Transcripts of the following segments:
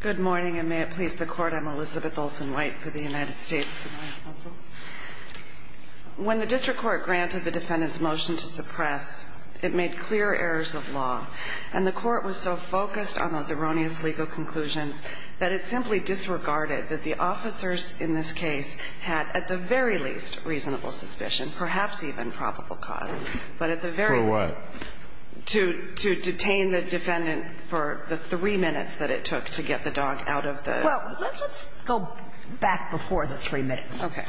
Good morning, and may it please the Court, I'm Elizabeth Olsen-White for the United States Judicial Council. When the District Court granted the defendant's motion to suppress, it made clear errors of law, and the Court was so focused on those erroneous legal conclusions that it simply disregarded that the officers in this case had, at the very least, reasonable suspicion, perhaps even probable cause, but at the very least, to detain the defendant for the three minutes that it took to get the dog out of the car. Well, let's go back before the three minutes. Okay.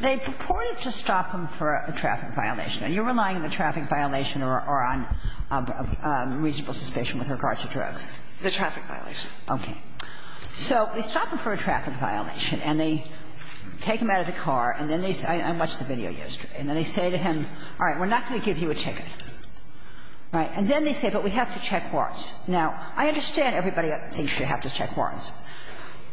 They purported to stop him for a traffic violation. Are you relying on the traffic violation or on reasonable suspicion with regard to drugs? The traffic violation. Okay. So they stop him for a traffic violation, and they take him out of the car, and they say, we're not going to give you a ticket, right? And then they say, but we have to check warrants. Now, I understand everybody thinks you have to check warrants.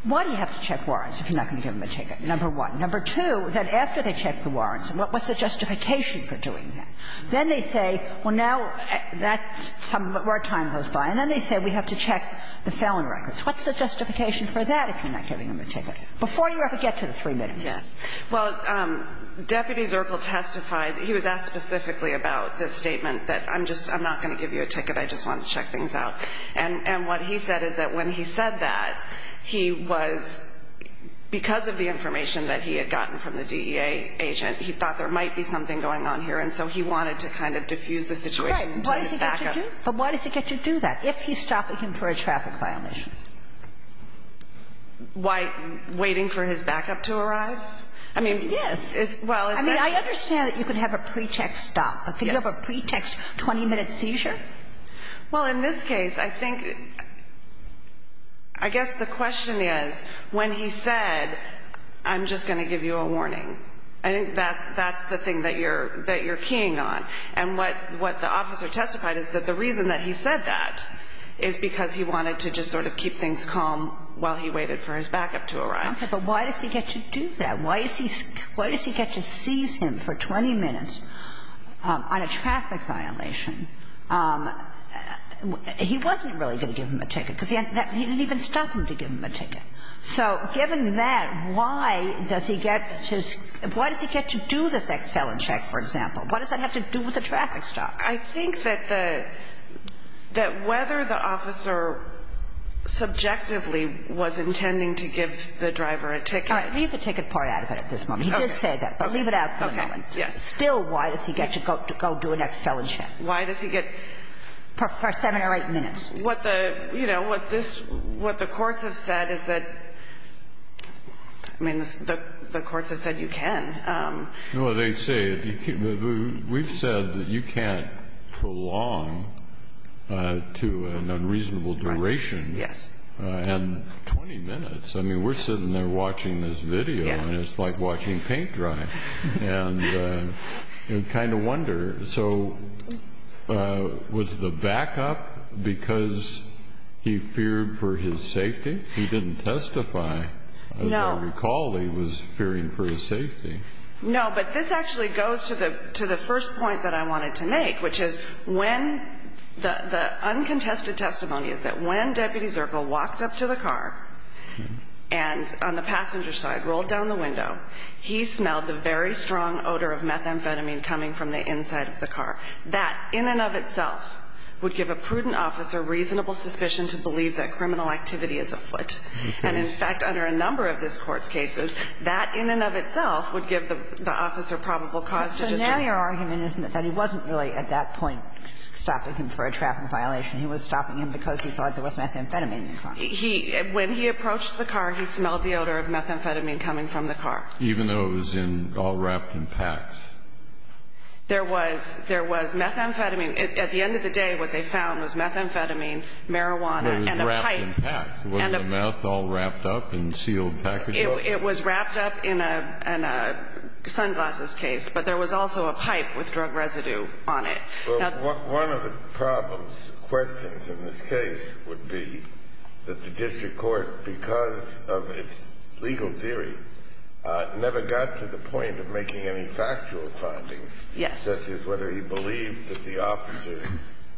Why do you have to check warrants if you're not going to give him a ticket, number one? Number two, then after they check the warrants, what's the justification for doing that? Then they say, well, now that's some of our time goes by, and then they say we have to check the felon records. What's the justification for that if you're not giving him a ticket? Before you ever get to the three minutes. Well, Deputy Zirkle testified. He was asked specifically about the statement that I'm not going to give you a ticket. I just want to check things out. And what he said is that when he said that, he was because of the information that he had gotten from the DEA agent, he thought there might be something going on here. And so he wanted to kind of diffuse the situation. But why does he get to do that if he's stopping him for a traffic violation? Why waiting for his backup to arrive? I mean, yes. Well, I mean, I understand that you could have a pretext stop. But could you have a pretext 20 minute seizure? Well, in this case, I think I guess the question is when he said, I'm just going to give you a warning. I think that's the thing that you're that you're keying on. And what the officer testified is that the reason that he said that is because he wanted to just sort of keep things calm while he waited for his backup to arrive. Okay. But why does he get to do that? Why is he why does he get to seize him for 20 minutes on a traffic violation? He wasn't really going to give him a ticket because he didn't even stop him to give him a ticket. So given that, why does he get to why does he get to do this ex-felon check, for example? What does that have to do with the traffic stop? I think that the that whether the officer subjectively was intending to give the driver a ticket. Leave the ticket part out of it at this moment. He did say that, but leave it out for a moment. Yes. Still, why does he get to go to go do an ex-felon check? Why does he get for seven or eight minutes? What the you know, what this what the courts have said is that I mean, the courts have said you can. No, they say we've said that you can't prolong to an unreasonable duration. Yes. And 20 minutes. I mean, we're sitting there watching this video and it's like watching paint dry. And you kind of wonder. So was the backup because he feared for his safety? He didn't testify. No. Recall, he was fearing for his safety. No, but this actually goes to the to the first point that I wanted to make, which is when the uncontested testimony is that when Deputy Zirkle walked up to the car and on the passenger side rolled down the window, he smelled the very strong odor of methamphetamine coming from the inside of the car. That in and of itself would give a prudent officer reasonable suspicion to believe that criminal activity is afoot. And in fact, under a number of this court's cases, that in and of itself would give the officer probable cause to now your argument is that he wasn't really at that point stopping him for a traffic violation. He was stopping him because he thought there was methamphetamine. He when he approached the car, he smelled the odor of methamphetamine coming from the car, even though it was in all wrapped in packs. There was there was methamphetamine at the end of the day, what they found was methamphetamine, marijuana and a pipe. And the mouth all wrapped up and sealed. It was wrapped up in a sunglasses case, but there was also a pipe with drug residue on it. One of the problems questions in this case would be that the district court, because of its legal theory, never got to the point of making any factual findings. Yes. Such as whether he believed that the officers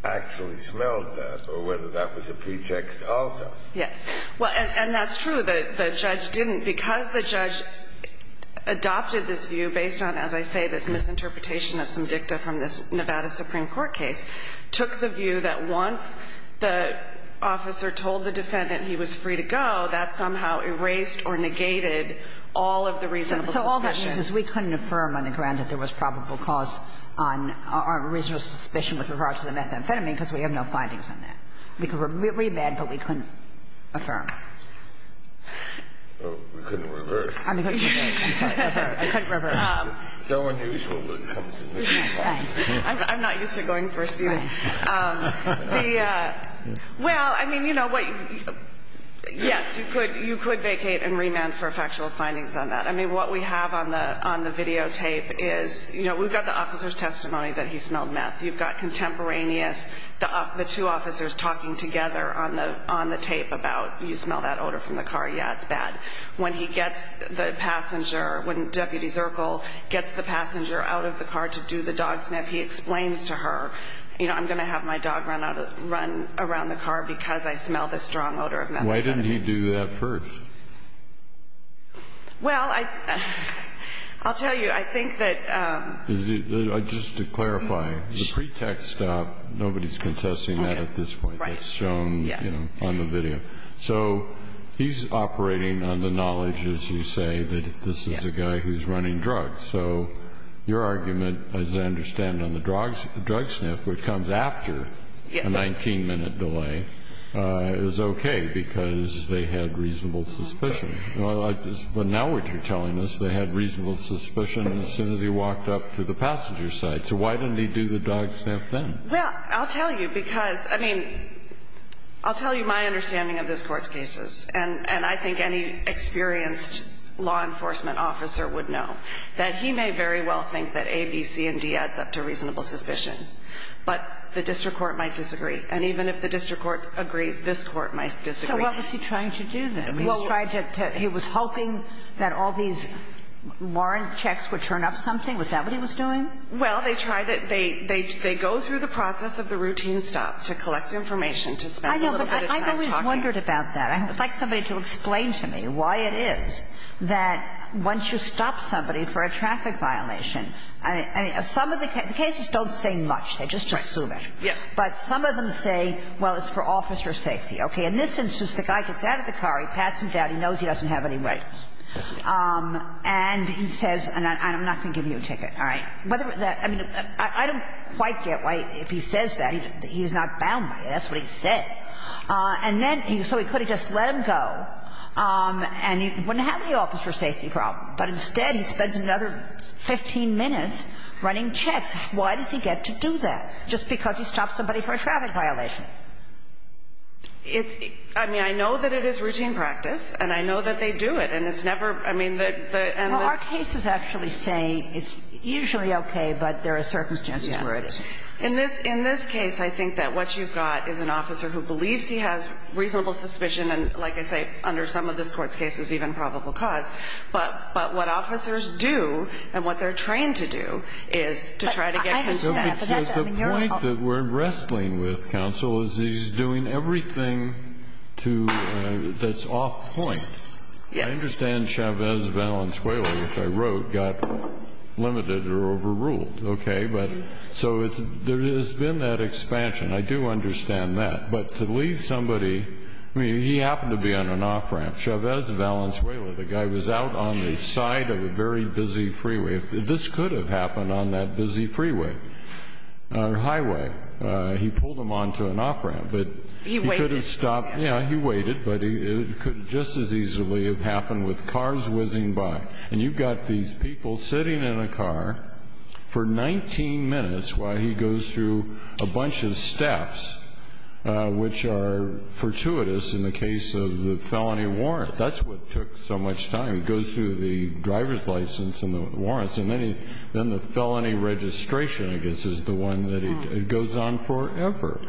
actually smelled that or whether that was a pretext also. Yes. Well, and that's true. The judge didn't because the judge adopted this view based on, as I say, this misinterpretation of some dicta from this Nevada Supreme Court case took the view that once the officer told the defendant he was free to go, that somehow erased or negated all of the reason. So all that means is we couldn't affirm on the ground that there was probable cause on our original suspicion with regard to the methamphetamine because we have no findings on that. We could remand, but we couldn't affirm. Oh, we couldn't reverse. I mean, I couldn't reverse. So unusual when it comes to this case. I'm not used to going first either. Well, I mean, you know what, yes, you could, you could vacate and remand for factual findings on that. I mean, what we have on the, on the video tape is, you know, we've got the officer's testimony that he smelled meth. You've got contemporaneous, the, the two officers talking together on the, on the tape about, you smell that odor from the car, yeah, it's bad. When he gets the passenger, when Deputy Zirkle gets the passenger out of the car to do the dog sniff, he explains to her, you know, I'm going to have my dog run out of, run around the car because I smell this strong odor of methamphetamine. Why didn't he do that first? Well, I, I'll tell you, I think that, um. Just to clarify, the pretext stop, nobody's contesting that at this point. That's shown, you know, on the video. So he's operating on the knowledge, as you say, that this is a guy who's running drugs. So your argument, as I understand on the drugs, drug sniff, which comes after a 19 minute delay, uh, is okay because they had reasonable suspicion. Well, I just, but now what you're telling us, they had reasonable suspicion as soon as he walked up to the passenger side. So why didn't he do the dog sniff then? Well, I'll tell you because, I mean, I'll tell you my understanding of this court's cases. And, and I think any experienced law enforcement officer would know that he may very well think that A, B, C, and D adds up to reasonable suspicion, but the district court might disagree. And even if the district court agrees, this court might disagree. So what was he trying to do then? I mean, he tried to, he was hoping that all these warrant checks would turn up something. Was that what he was doing? Well, they try to, they, they, they go through the process of the routine stop to collect information, to spend a little bit of time talking. I know, but I've always wondered about that. I would like somebody to explain to me why it is that once you stop somebody for a traffic violation, I mean, some of the cases don't say much. They just assume it. Yes. But some of them say, well, it's for officer safety. Okay. In this instance, the guy gets out of the car, he pats him down, he knows he doesn't have any right. And he says, and I'm not going to give you a ticket, all right? Whether that, I mean, I don't quite get why, if he says that, he's not bound by it. That's what he said. And then, so he could have just let him go, and he wouldn't have any officer safety problem. But instead, he spends another 15 minutes running checks. Why does he get to do that? Just because he stopped somebody for a traffic violation. It's – I mean, I know that it is routine practice, and I know that they do it. And it's never – I mean, the – and the – Well, our cases actually say it's usually okay, but there are circumstances where it is. In this – in this case, I think that what you've got is an officer who believes he has reasonable suspicion and, like I say, under some of this Court's cases, even probable cause. But what officers do, and what they're trained to do, is to try to get consent. But the point that we're wrestling with, Counsel, is he's doing everything to – that's off point. Yes. I understand Chavez Valenzuela, which I wrote, got limited or overruled. Okay? But – so it's – there has been that expansion. I do understand that. But to leave somebody – I mean, he happened to be on an off-ramp. Chavez Valenzuela, the guy was out on the side of a very busy freeway. This could have happened on that busy freeway or highway. He pulled him onto an off-ramp. But he could have stopped. Yeah, he waited. But it could just as easily have happened with cars whizzing by. And you've got these people sitting in a car for 19 minutes while he goes through a bunch of steps which are fortuitous in the case of the felony warrant. That's what took so much time. He goes through the driver's license and the warrants, and then the felony registration, I guess, is the one that he – it goes on forever.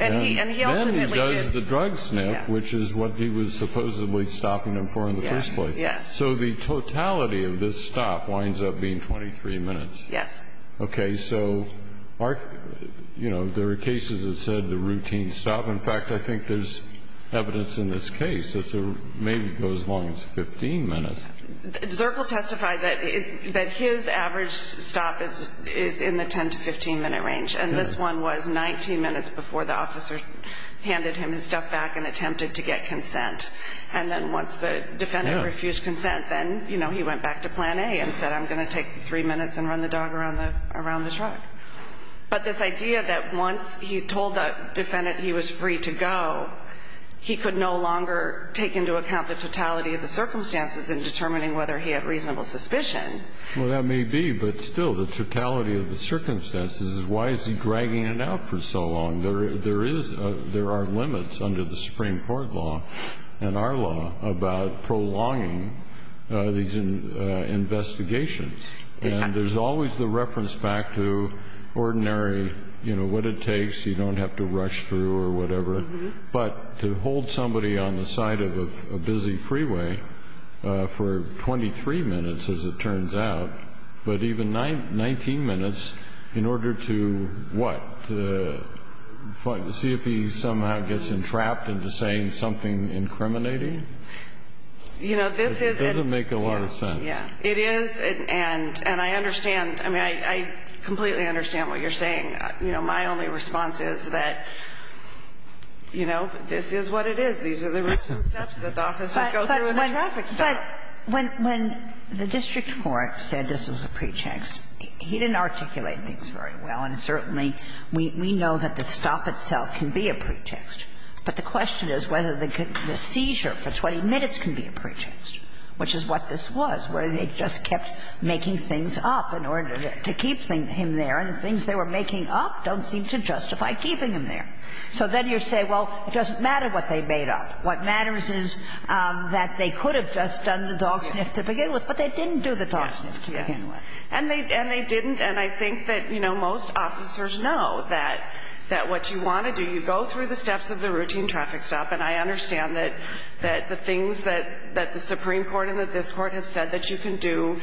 And he ultimately did – And then he does the drug sniff, which is what he was supposedly stopping him for in the first place. Yes. So the totality of this stop winds up being 23 minutes. Yes. Okay. So, you know, there are cases that said the routine stop. In fact, I think there's evidence in this case that maybe it goes as long as 15 minutes. Zirkle testified that his average stop is in the 10 to 15-minute range. And this one was 19 minutes before the officer handed him his stuff back and attempted to get consent. And then once the defendant refused consent, then he went back to plan A and said, I'm going to take three minutes and run the dog around the truck. But this idea that once he told the defendant he was free to go, he could no longer take into account the totality of the circumstances in determining whether he had reasonable suspicion. Well, that may be. But still, the totality of the circumstances is why is he dragging it out for so long? There is – there are limits under the Supreme Court law and our law about prolonging these investigations. And there's always the reference back to ordinary, you know, what it takes. You don't have to rush through or whatever. But to hold somebody on the side of a busy freeway for 23 minutes, as it turns out, but even 19 minutes in order to what, to see if he somehow gets entrapped into saying something incriminating? You know, this is – It doesn't make a lot of sense. Yeah. It is. And I understand – I mean, I completely understand what you're saying. You know, my only response is that, you know, this is what it is. These are the steps that the officers go through in a traffic stop. But when the district court said this was a pretext, he didn't articulate things very well. And certainly, we know that the stop itself can be a pretext. But the question is whether the seizure for 20 minutes can be a pretext, which is what this was, where they just kept making things up in order to keep him there. And the things they were making up don't seem to justify keeping him there. So then you say, well, it doesn't matter what they made up. What matters is that they could have just done the dog sniff to begin with. But they didn't do the dog sniff to begin with. And they didn't. And I think that, you know, most officers know that what you want to do, you go through the steps of the routine traffic stop. And I understand that the things that the Supreme Court and that this Court have said that you can do.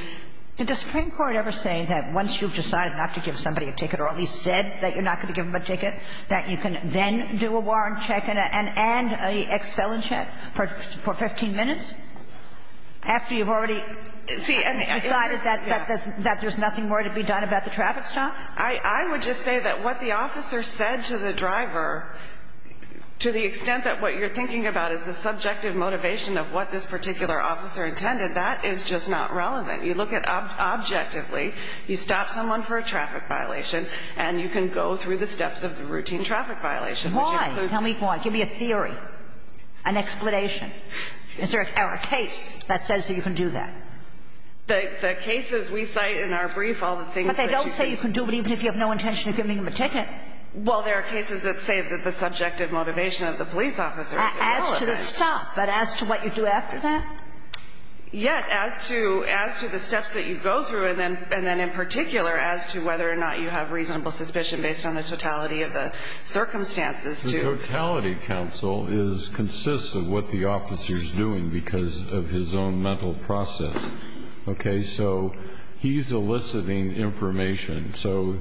But does the Supreme Court ever say that once you've decided not to give somebody a ticket or at least said that you're not going to give them a ticket, that you can then do a warrant check and an ex-felon check for 15 minutes after you've already decided that there's nothing more to be done about the traffic stop? I would just say that what the officer said to the driver, to the extent that what you're thinking about is the subjective motivation of what this particular officer intended, that is just not relevant. You look at objectively, you stop someone for a traffic violation, and you can go through the steps of the routine traffic violation. Why? Tell me why. Give me a theory, an explanation. Is there a case that says that you can do that? The cases we cite in our brief, all the things that you can do. But they don't say you can do it even if you have no intention of giving them a ticket. Well, there are cases that say that the subjective motivation of the police officer is irrelevant. As to the stop, but as to what you do after that? Yes, as to the steps that you go through, and then in particular, as to whether or not you have reasonable suspicion based on the totality of the circumstances. The totality, counsel, consists of what the officer's doing because of his own mental process. Okay? So he's eliciting information. So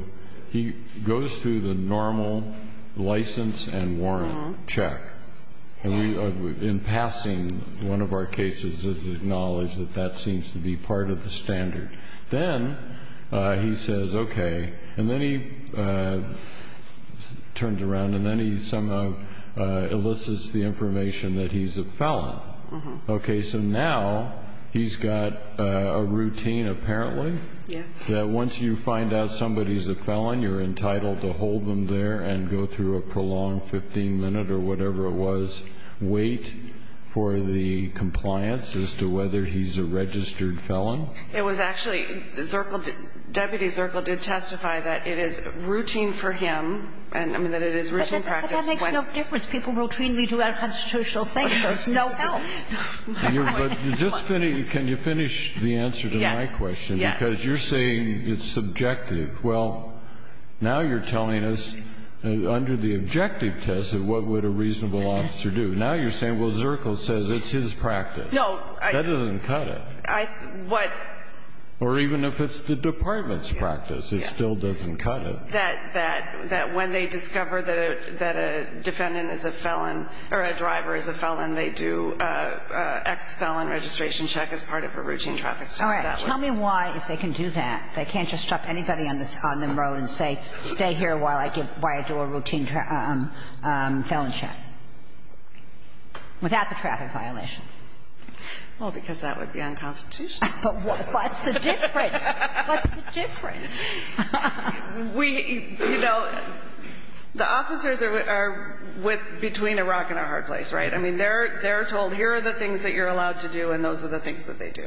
he goes through the normal license and warrant check. In passing, one of our cases is acknowledged that that seems to be part of the standard. Then he says, okay. And then he turns around, and then he somehow elicits the information that he's a felon. Okay. So now he's got a routine, apparently, that once you find out somebody's a felon, you're entitled to hold them there and go through a prolonged 15 minute or whatever it was, wait for the compliance as to whether he's a registered felon. It was actually, Zirkle, Deputy Zirkle did testify that it is routine for him, and I mean, that it is routine practice. But that makes no difference. People routinely do unconstitutional things. There's no help. But can you finish the answer to my question? Yes. Because you're saying it's subjective. Well, now you're telling us under the objective test of what would a reasonable officer do. Now you're saying, well, Zirkle says it's his practice. No. That doesn't cut it. What? Or even if it's the department's practice, it still doesn't cut it. That when they discover that a defendant is a felon or a driver is a felon, they do an ex-felon registration check as part of a routine traffic stop. All right. Tell me why, if they can do that. They can't just stop anybody on the road and say, stay here while I do a routine felon check. Without the traffic violation. Well, because that would be unconstitutional. But what's the difference? What's the difference? We, you know, the officers are between a rock and a hard place, right? I mean, they're told, here are the things that you're allowed to do, and those are the things that they do.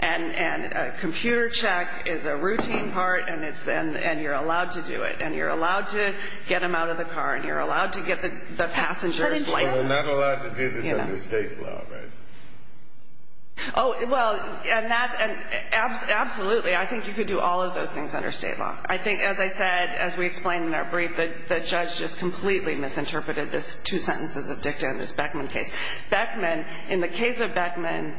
And a computer check is a routine part, and you're allowed to do it, and you're allowed to get them out of the car, and you're allowed to get the passenger's license. But they're not allowed to do this under state law, right? Oh, well, absolutely. I think you could do all of those things under state law. I think, as I said, as we explained in our brief, the judge just completely misinterpreted this two sentences of dicta in this Beckman case. Beckman, in the case of Beckman,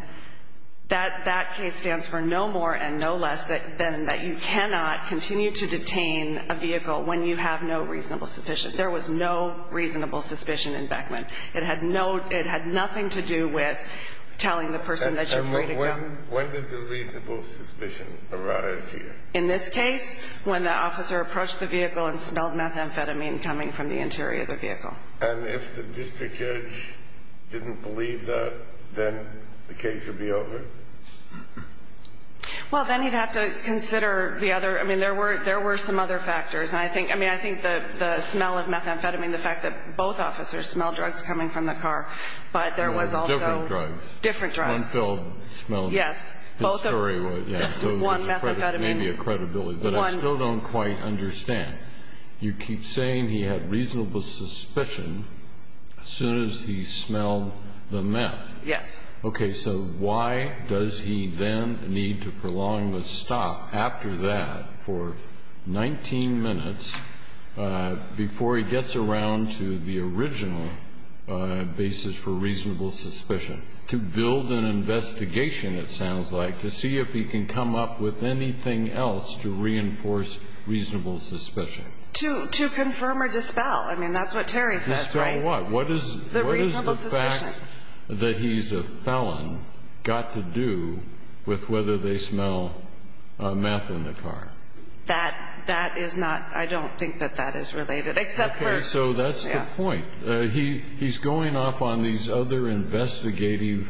that case stands for no more and no less than that you cannot continue to detain a vehicle when you have no reasonable suspicion. There was no reasonable suspicion in Beckman. It had nothing to do with telling the person that you're free to go. When did the reasonable suspicion arise here? In this case, when the officer approached the vehicle and smelled methamphetamine coming from the interior of the vehicle. And if the district judge didn't believe that, then the case would be over? Well, then you'd have to consider the other. I mean, there were some other factors. And I think the smell of methamphetamine, the fact that both officers smelled drugs coming from the car, but there was also different drugs. One smelled. Yes. His story was maybe a credibility. But I still don't quite understand. You keep saying he had reasonable suspicion as soon as he smelled the meth. Yes. Okay. So why does he then need to prolong the stop after that for 19 minutes before he gets around to the original basis for reasonable suspicion? To build an investigation, it sounds like, to see if he can come up with anything else to reinforce reasonable suspicion. To confirm or dispel. I mean, that's what Terry says. Dispel what? What is the fact that he's a felon got to do with whether they smell meth in the car? That is not. I don't think that that is related. Except for. So that's the point. He's going off on these other investigative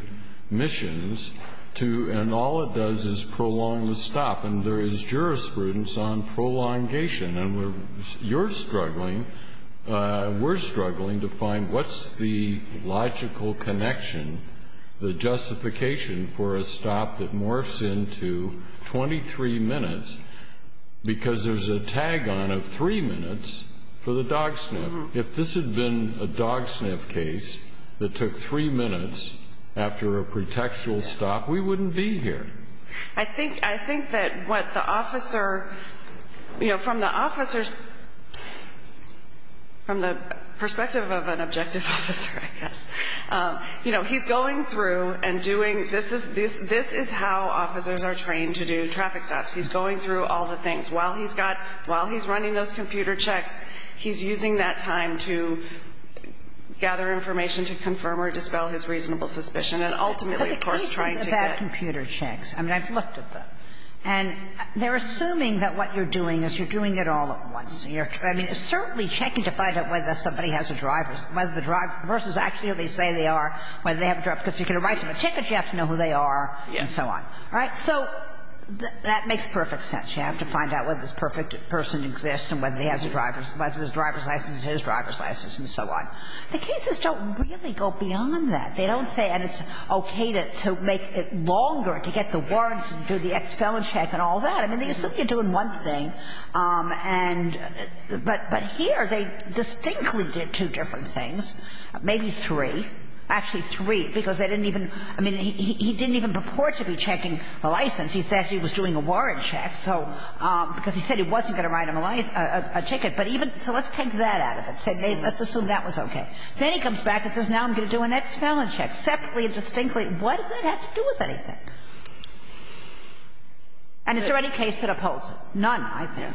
missions, and all it does is prolong the stop. And there is jurisprudence on prolongation. And you're struggling. We're struggling to find what's the logical connection. The justification for a stop that morphs into 23 minutes. Because there's a tag on of three minutes for the dog sniff. If this had been a dog sniff case that took three minutes after a pretextual stop, we wouldn't be here. I think I think that what the officer, you know, from the officers. From the perspective of an objective officer, I guess, you know, he's going through and doing this is this. This is how officers are trained to do traffic stops. He's going through all the things while he's got while he's running those computer checks. He's using that time to gather information to confirm or dispel his reasonable suspicion. And ultimately, of course, trying to get. But the case is about computer checks. I mean, I've looked at them. And they're assuming that what you're doing is you're doing it all at once. I mean, certainly checking to find out whether somebody has a driver's, whether the driver's actually say they are, whether they have a driver's, because you can write them a ticket, you have to know who they are, and so on. Right? So that makes perfect sense. You have to find out whether this person exists and whether he has a driver's license, whether his driver's license is his driver's license, and so on. The cases don't really go beyond that. They don't say, and it's okay to make it longer, to get the warrants and do the ex-felon check and all that. I mean, they assume you're doing one thing, and but here they distinctly did two different things, maybe three, actually three, because they didn't even he didn't even purport to be checking the license. He said he was doing a warrant check, so because he said he wasn't going to write him a ticket, but even so let's take that out of it. Let's assume that was okay. Then he comes back and says, now I'm going to do an ex-felon check, separately and distinctly. What does that have to do with anything? And is there any case that upholds it? None, I think.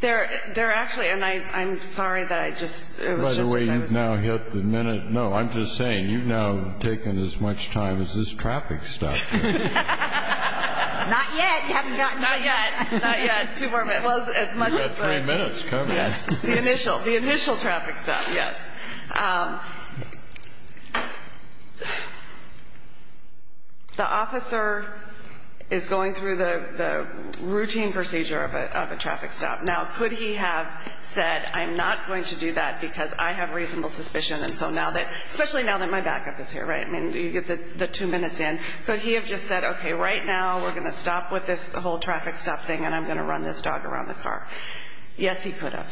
They're actually, and I'm sorry that I just. By the way, you've now hit the minute. No, I'm just saying you've now taken as much time as this traffic stuff. Not yet. You haven't gotten there yet. Not yet. Two more minutes. As much as three minutes coming. Yes. The initial, the initial traffic stuff. Yes. The officer is going through the routine procedure of a traffic stop. Now, could he have said, I'm not going to do that because I have reasonable suspicion. And so now that, especially now that my backup is here, right? I mean, you get the two minutes in. Could he have just said, okay, right now we're going to stop with this whole traffic stop thing and I'm going to run this dog around the car. Yes, he could have.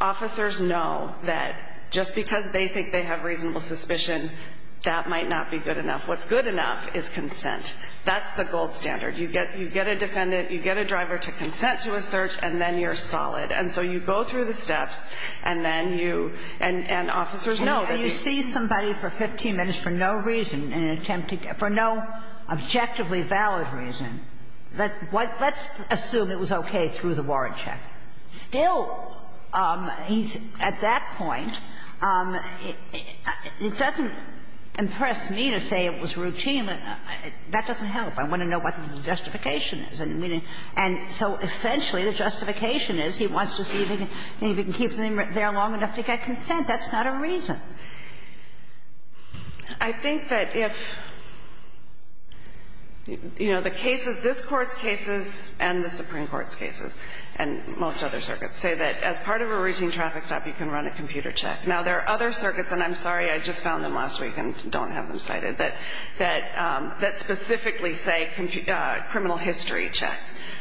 Officers know that just because they think they have reasonable suspicion, that might not be good enough. What's good enough is consent. That's the gold standard. You get, you get a defendant, you get a driver to consent to a search, and then you're solid. And so you go through the steps and then you, and, and officers know that. You see somebody for 15 minutes for no reason, in an attempt to get, for no objectively valid reason, that what, let's assume it was okay through the warrant check. Still, he's, at that point, it doesn't impress me to say it was routine. That doesn't help. I want to know what the justification is. And so essentially the justification is he wants to see if he can keep them there long enough to get consent. That's not a reason. I think that if, you know, the cases, this Court's cases and the Supreme Court's and most other circuits say that as part of a routine traffic stop, you can run a computer check. Now there are other circuits, and I'm sorry, I just found them last week and don't have them cited, that, that, that specifically say criminal history check.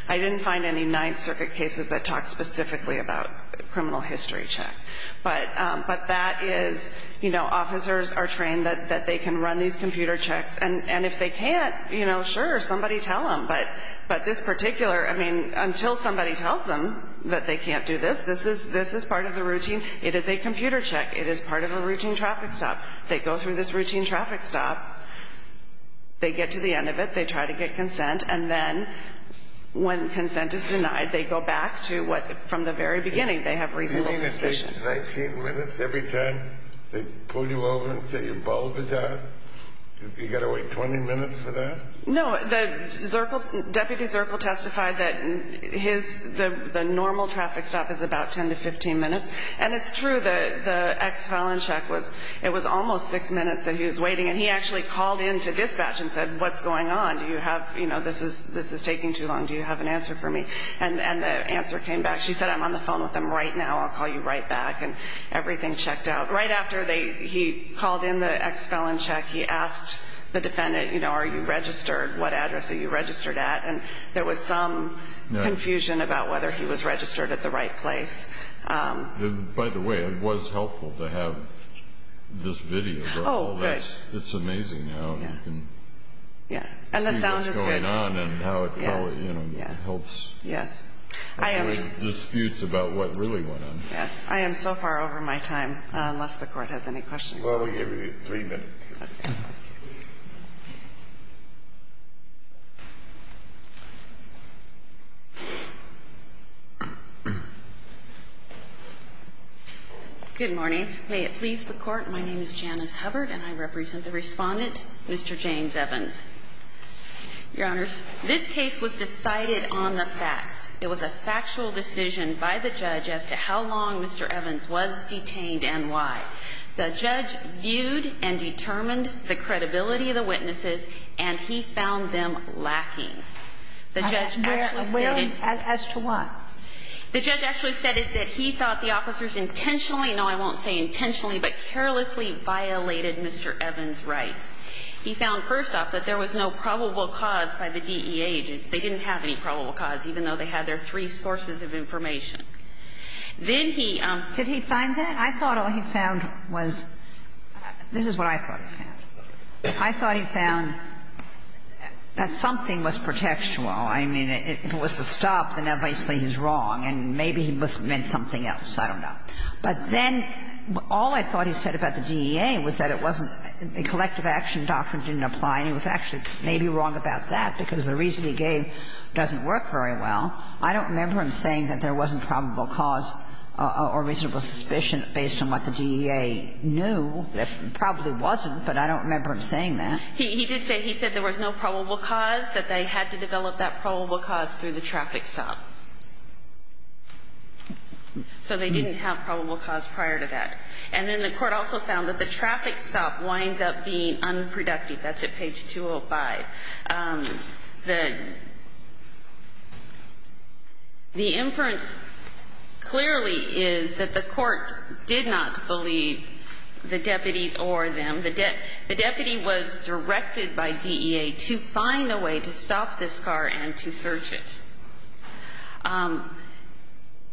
I didn't find any Ninth Circuit cases that talked specifically about criminal history check. But, but that is, you know, officers are trained that, that they can run these computer checks. And, and if they can't, you know, sure, somebody tell them. But, but this particular, I mean, until somebody tells them that they can't do this, this is, this is part of the routine. It is a computer check. It is part of a routine traffic stop. They go through this routine traffic stop. They get to the end of it. They try to get consent. And then when consent is denied, they go back to what, from the very beginning, they have reasonable suspicion. You mean it takes 19 minutes every time they pull you over and say your bulb is out? You got to wait 20 minutes for that? No, the Zirkle, Deputy Zirkle testified that his, the, the normal traffic stop is about 10 to 15 minutes. And it's true that the ex-felon check was, it was almost six minutes that he was waiting. And he actually called into dispatch and said, what's going on? Do you have, you know, this is, this is taking too long. Do you have an answer for me? And, and the answer came back. She said, I'm on the phone with them right now. I'll call you right back. And everything checked out. Right after they, he called in the ex-felon check, he asked the defendant, you know, are you registered? What address are you registered at? And there was some confusion about whether he was registered at the right place. By the way, it was helpful to have this video. Oh, good. It's amazing how you can see what's going on and how it probably, you know, helps. Yes. I am. Disputes about what really went on. Yes. I am so far over my time, unless the Court has any questions. Well, we gave you three minutes. Okay. Good morning. May it please the Court, my name is Janice Hubbard and I represent the respondent, Mr. James Evans. Your Honors, this case was decided on the facts. It was a factual decision by the judge as to how long Mr. Evans was detained and why. The judge viewed and determined the credibility of the witnesses, and he found them lacking. The judge actually said it as to what? The judge actually said it, that he thought the officers intentionally, no, I won't say intentionally, but carelessly violated Mr. Evans' rights. He found, first off, that there was no probable cause by the DEA agents. They didn't have any probable cause, even though they had their three sources of information. Then he – Did he find that? I thought all he found was – this is what I thought he found. I thought he found that something was pretextual. I mean, if it was to stop, then obviously he's wrong, and maybe he must have meant something else. I don't know. But then all I thought he said about the DEA was that it wasn't – the collective action doctrine didn't apply, and he was actually maybe wrong about that, because the reason he gave doesn't work very well. I don't remember him saying that there wasn't probable cause or reasonable suspicion based on what the DEA knew. There probably wasn't, but I don't remember him saying that. He did say – he said there was no probable cause, that they had to develop that probable cause through the traffic stop. So they didn't have probable cause prior to that. And then the Court also found that the traffic stop winds up being unproductive. That's at page 205. The inference clearly is that the Court did not believe the deputies or them. The deputy was directed by DEA to find a way to stop this car and to search it.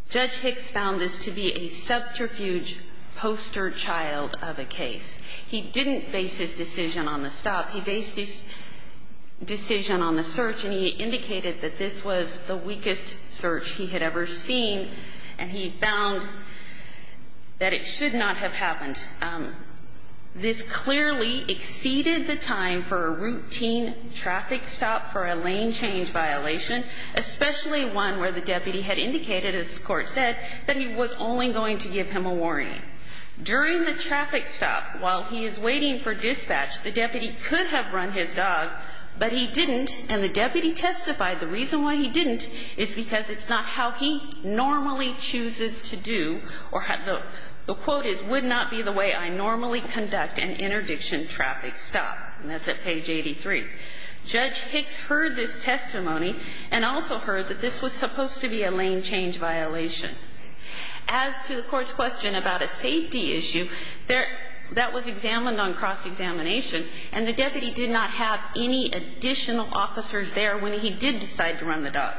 Judge Hicks found this to be a subterfuge poster child of a case. He didn't base his decision on the stop. He based his decision on the search, and he indicated that this was the weakest search he had ever seen, and he found that it should not have happened. This clearly exceeded the time for a routine traffic stop for a lane change violation, especially one where the deputy had indicated, as the Court said, that he was only going to give him a warning. During the traffic stop, while he is waiting for dispatch, the deputy could have run his dog, but he didn't, and the deputy testified the reason why he didn't is because it's not how he normally chooses to do, or the quote is, would not be the way I normally conduct an interdiction traffic stop. And that's at page 83. Judge Hicks heard this testimony and also heard that this was supposed to be a lane change violation. As to the Court's question about a safety issue, that was examined on cross-examination, and the deputy did not have any additional officers there when he did decide to run the dog.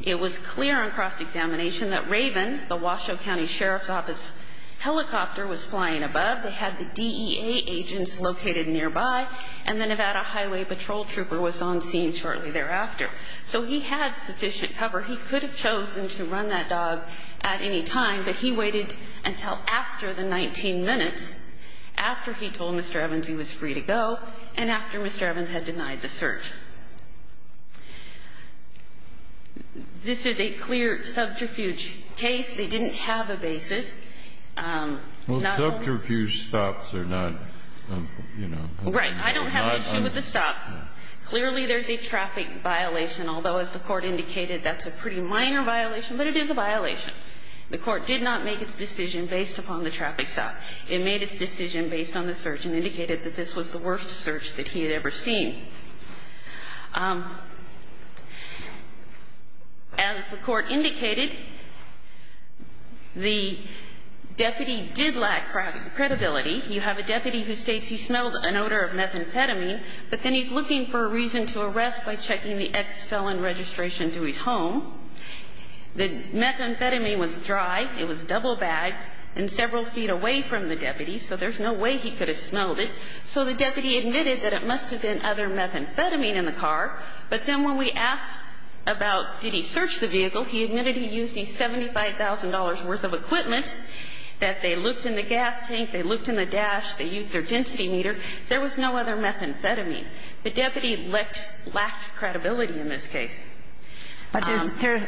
It was clear on cross-examination that Raven, the Washoe County Sheriff's Office helicopter, was flying above. They had the DEA agents located nearby, and the Nevada Highway Patrol trooper was on scene shortly thereafter. So he had sufficient cover. He could have chosen to run that dog at any time, but he waited until after the 19 minutes, after he told Mr. Evans he was free to go, and after Mr. Evans had denied the search. This is a clear subterfuge case. They didn't have a basis. Well, subterfuge stops are not, you know. Right. I don't have an issue with the stop. Clearly, there's a traffic violation, although as the Court indicated, that's a pretty minor violation, but it is a violation. The Court did not make its decision based upon the traffic stop. It made its decision based on the search and indicated that this was the worst search that he had ever seen. As the Court indicated, the deputy did lack credibility. You have a deputy who states he smelled an odor of methamphetamine, but then he's looking for a reason to arrest by checking the ex-felon registration to his home. The methamphetamine was dry. It was double-bagged and several feet away from the deputy, so there's no way he could have smelled it. So the deputy admitted that it must have been other methamphetamine in the car, but then when we asked about did he search the vehicle, he admitted he used his $75,000 worth of equipment, that they looked in the gas tank, they looked in the dash, they used their density meter. There was no other methamphetamine. The deputy lacked credibility in this case. But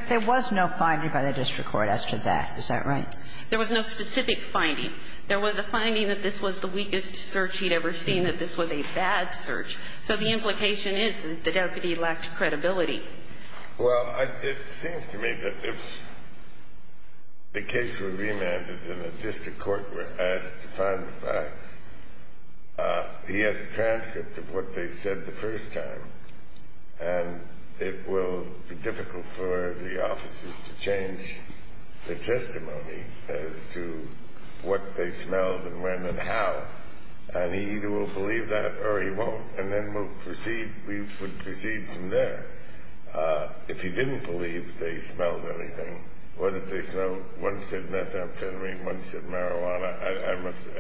there was no finding by the district court as to that. Is that right? There was no specific finding. There was a finding that this was the weakest search he'd ever seen, that this was a bad search. So the implication is that the deputy lacked credibility. Well, it seems to me that if the case were remanded and the district court were asked to find the facts, he has a transcript of what they said the first time, and it will be difficult for the officers to change their testimony as to what they smelled and when and how. And he either will believe that or he won't, and then we'll proceed, we would proceed from there. If he didn't believe they smelled anything, whether they smelled, one said methamphetamine, one said marijuana.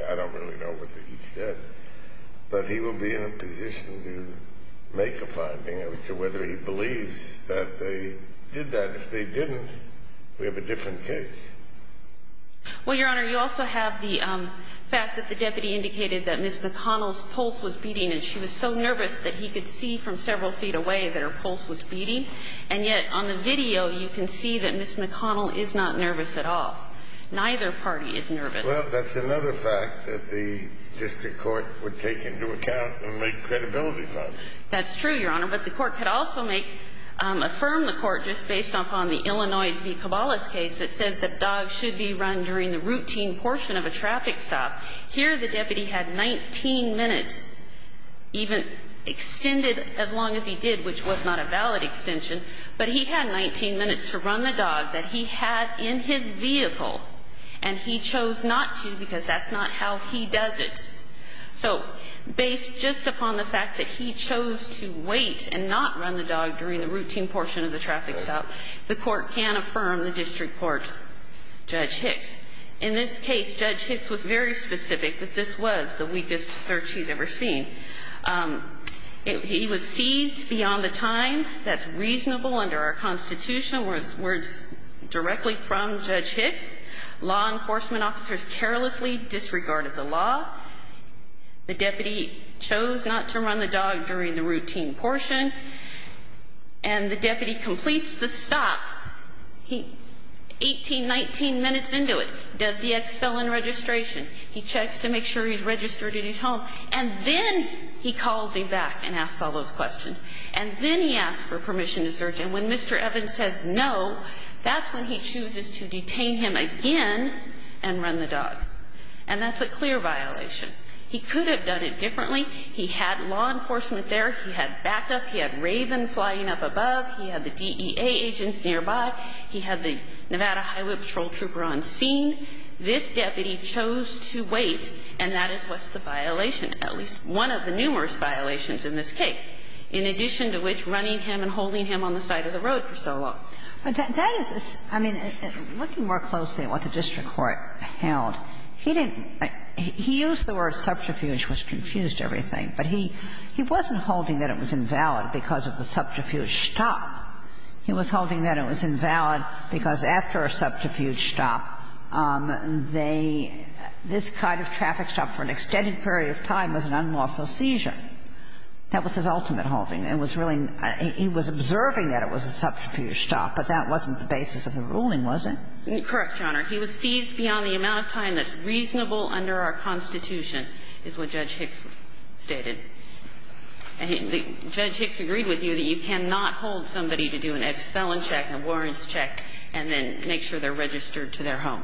I don't really know what he said. But he will be in a position to make a finding as to whether he believes that they did that. If they didn't, we have a different case. Well, Your Honor, you also have the fact that the deputy indicated that Ms. McConnell's pulse was beating, and she was so nervous that he could see from several feet away that her pulse was beating. And yet on the video, you can see that Ms. McConnell is not nervous at all. Neither party is nervous. Well, that's another fact that the district court would take into account and make credibility funds. That's true, Your Honor. But the court could also make, affirm the court just based off on the Illinois v. Cabales case that says that dogs should be run during the routine portion of a traffic stop. Here the deputy had 19 minutes even extended as long as he did, which was not a valid extension. But he had 19 minutes to run the dog that he had in his vehicle. And he chose not to because that's not how he does it. So based just upon the fact that he chose to wait and not run the dog during the routine portion of the traffic stop, the court can affirm the district court, Judge Hicks. In this case, Judge Hicks was very specific that this was the weakest search he'd ever seen. He was seized beyond the time that's reasonable under our Constitution, where it's directly from Judge Hicks. Law enforcement officers carelessly disregarded the law. The deputy chose not to run the dog during the routine portion. And the deputy completes the stop. He 18, 19 minutes into it, does the expel and registration. He checks to make sure he's registered at his home. And then he calls him back and asks all those questions. And then he asks for permission to search. And when Mr. Evans says no, that's when he chooses to detain him again and run the dog. And that's a clear violation. He could have done it differently. He had law enforcement there. He had backup. He had Raven flying up above. He had the DEA agents nearby. He had the Nevada Highway Patrol trooper on scene. This deputy chose to wait. And that is what's the violation, at least one of the numerous violations in this And that's the reason why he was on the side of the road for so long. But that is, I mean, looking more closely at what the district court held, he didn't he used the word subterfuge, which confused everything, but he wasn't holding that it was invalid because of the subterfuge stop. He was holding that it was invalid because after a subterfuge stop, they, this kind of traffic stop for an extended period of time was an unlawful seizure. That was his ultimate holding. And it was really, he was observing that it was a subterfuge stop, but that wasn't the basis of the ruling, was it? Correct, Your Honor. He was seized beyond the amount of time that's reasonable under our Constitution is what Judge Hicks stated. And Judge Hicks agreed with you that you cannot hold somebody to do an expelling check, a warrants check, and then make sure they're registered to their home.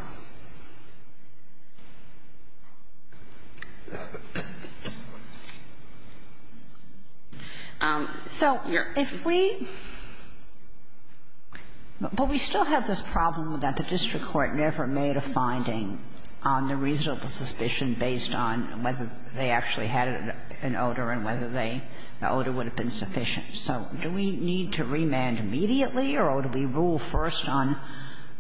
So if we – but we still have this problem that the district court never made a finding on the reasonable suspicion based on whether they actually had an odor and whether they – the odor would have been sufficient. So do we need to remand immediately, or do we rule first on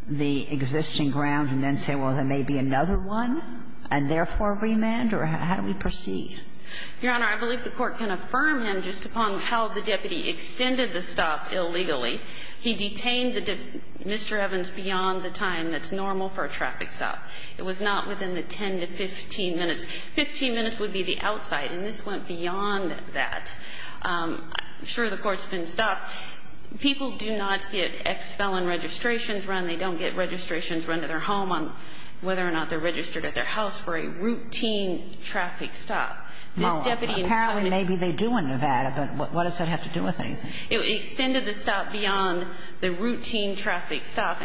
the existing ground and then say, well, there may be another one, and therefore remand? Or how do we proceed? Your Honor, I believe the Court can affirm him just upon how the deputy extended the stop illegally. He detained Mr. Evans beyond the time that's normal for a traffic stop. It was not within the 10 to 15 minutes. Fifteen minutes would be the outside, and this went beyond that. I'm sure the Court's been stopped. People do not get ex-felon registrations run. They don't get registrations run to their home on whether or not they're registered at their house for a routine traffic stop. This deputy expedited the stop. Apparently, maybe they do in Nevada, but what does that have to do with anything? It extended the stop beyond the routine traffic stop,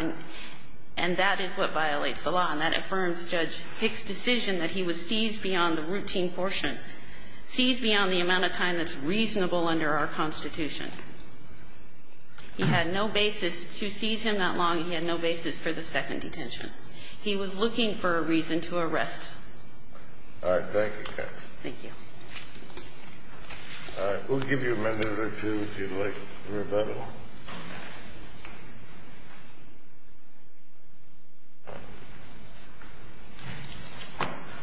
and that is what violates the law, and that affirms Judge Hick's decision that he was seized beyond the routine portion, seized beyond the amount of time that's reasonable under our Constitution. He had no basis to seize him that long, and he had no basis for the second detention. He was looking for a reason to arrest. All right, thank you, Counsel. Thank you. All right, we'll give you a minute or two, if you'd like, for rebuttal.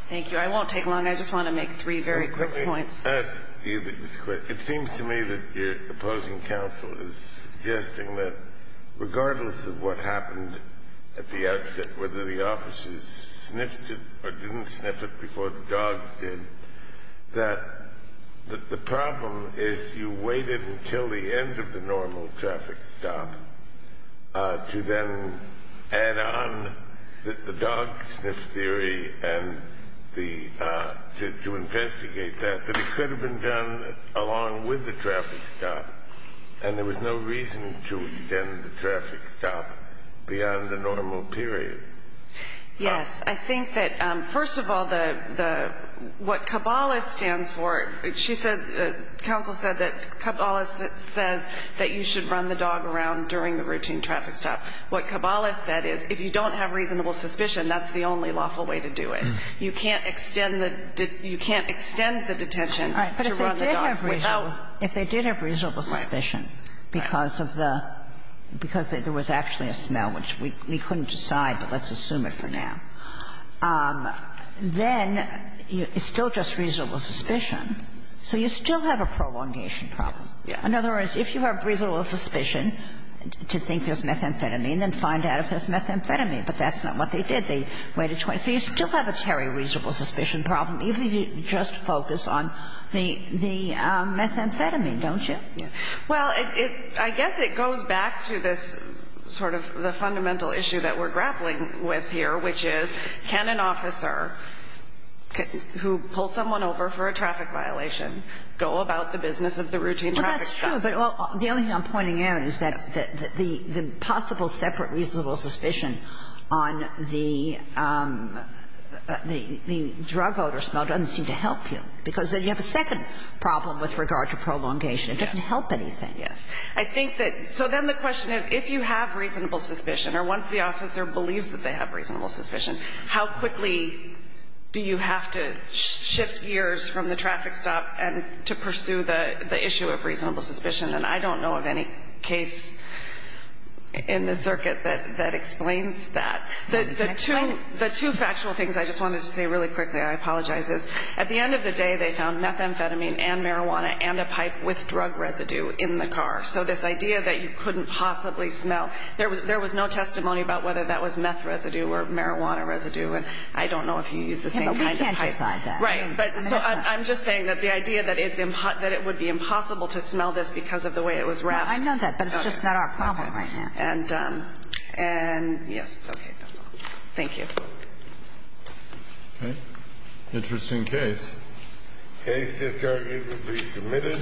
Thank you. I won't take long. I just want to make three very quick points. Let me ask you this question. It seems to me that your opposing counsel is suggesting that regardless of what happened at the outset, whether the officers sniffed it or didn't sniff it before the dogs did, that the problem is you waited until the end of the normal traffic stop to then add on the dog sniff theory and to investigate that, that it could have been done along with the traffic stop, and there was no reason to extend the traffic stop beyond the normal period. Yes. I think that, first of all, what Cabales stands for, she said, the counsel said that Cabales says that you should run the dog around during the routine traffic stop. What Cabales said is, if you don't have reasonable suspicion, that's the only lawful way to do it. You can't extend the detention to run the dog without. All right. But if they did have reasonable suspicion, because of the – because there was actually a smell, which we couldn't decide, but let's assume it for now, then it's still just reasonable suspicion. So you still have a prolongation problem. Yes. In other words, if you have reasonable suspicion to think there's methamphetamine, then find out if there's methamphetamine. But that's not what they did. They waited 20 – so you still have a very reasonable suspicion problem, even if you just focus on the methamphetamine, don't you? Well, I guess it goes back to this sort of the fundamental issue that we're grappling with here, which is, can an officer who pulls someone over for a traffic violation go about the business of the routine traffic stop? Well, that's true. But the only thing I'm pointing out is that the possible separate reasonable suspicion on the drug odor smell doesn't seem to help you, because then you have a second problem with regard to prolongation. It doesn't help anything. Yes. I think that – so then the question is, if you have reasonable suspicion, or once the officer believes that they have reasonable suspicion, how quickly do you have to shift gears from the traffic stop to pursue the issue of reasonable suspicion? And I don't know of any case in the circuit that explains that. The two factual things I just wanted to say really quickly – I apologize – is at the end of the day, they found methamphetamine and marijuana and a pipe with drug residue in the car. So this idea that you couldn't possibly smell – there was no testimony about whether that was meth residue or marijuana residue. And I don't know if you use the same kind of pipe. We can't decide that. Right. So I'm just saying that the idea that it would be impossible to smell this because of the way it was wrapped. I know that, but it's just not our problem right now. And yes. Okay. That's all. Thank you. Okay. Interesting case. Case is currently to be submitted.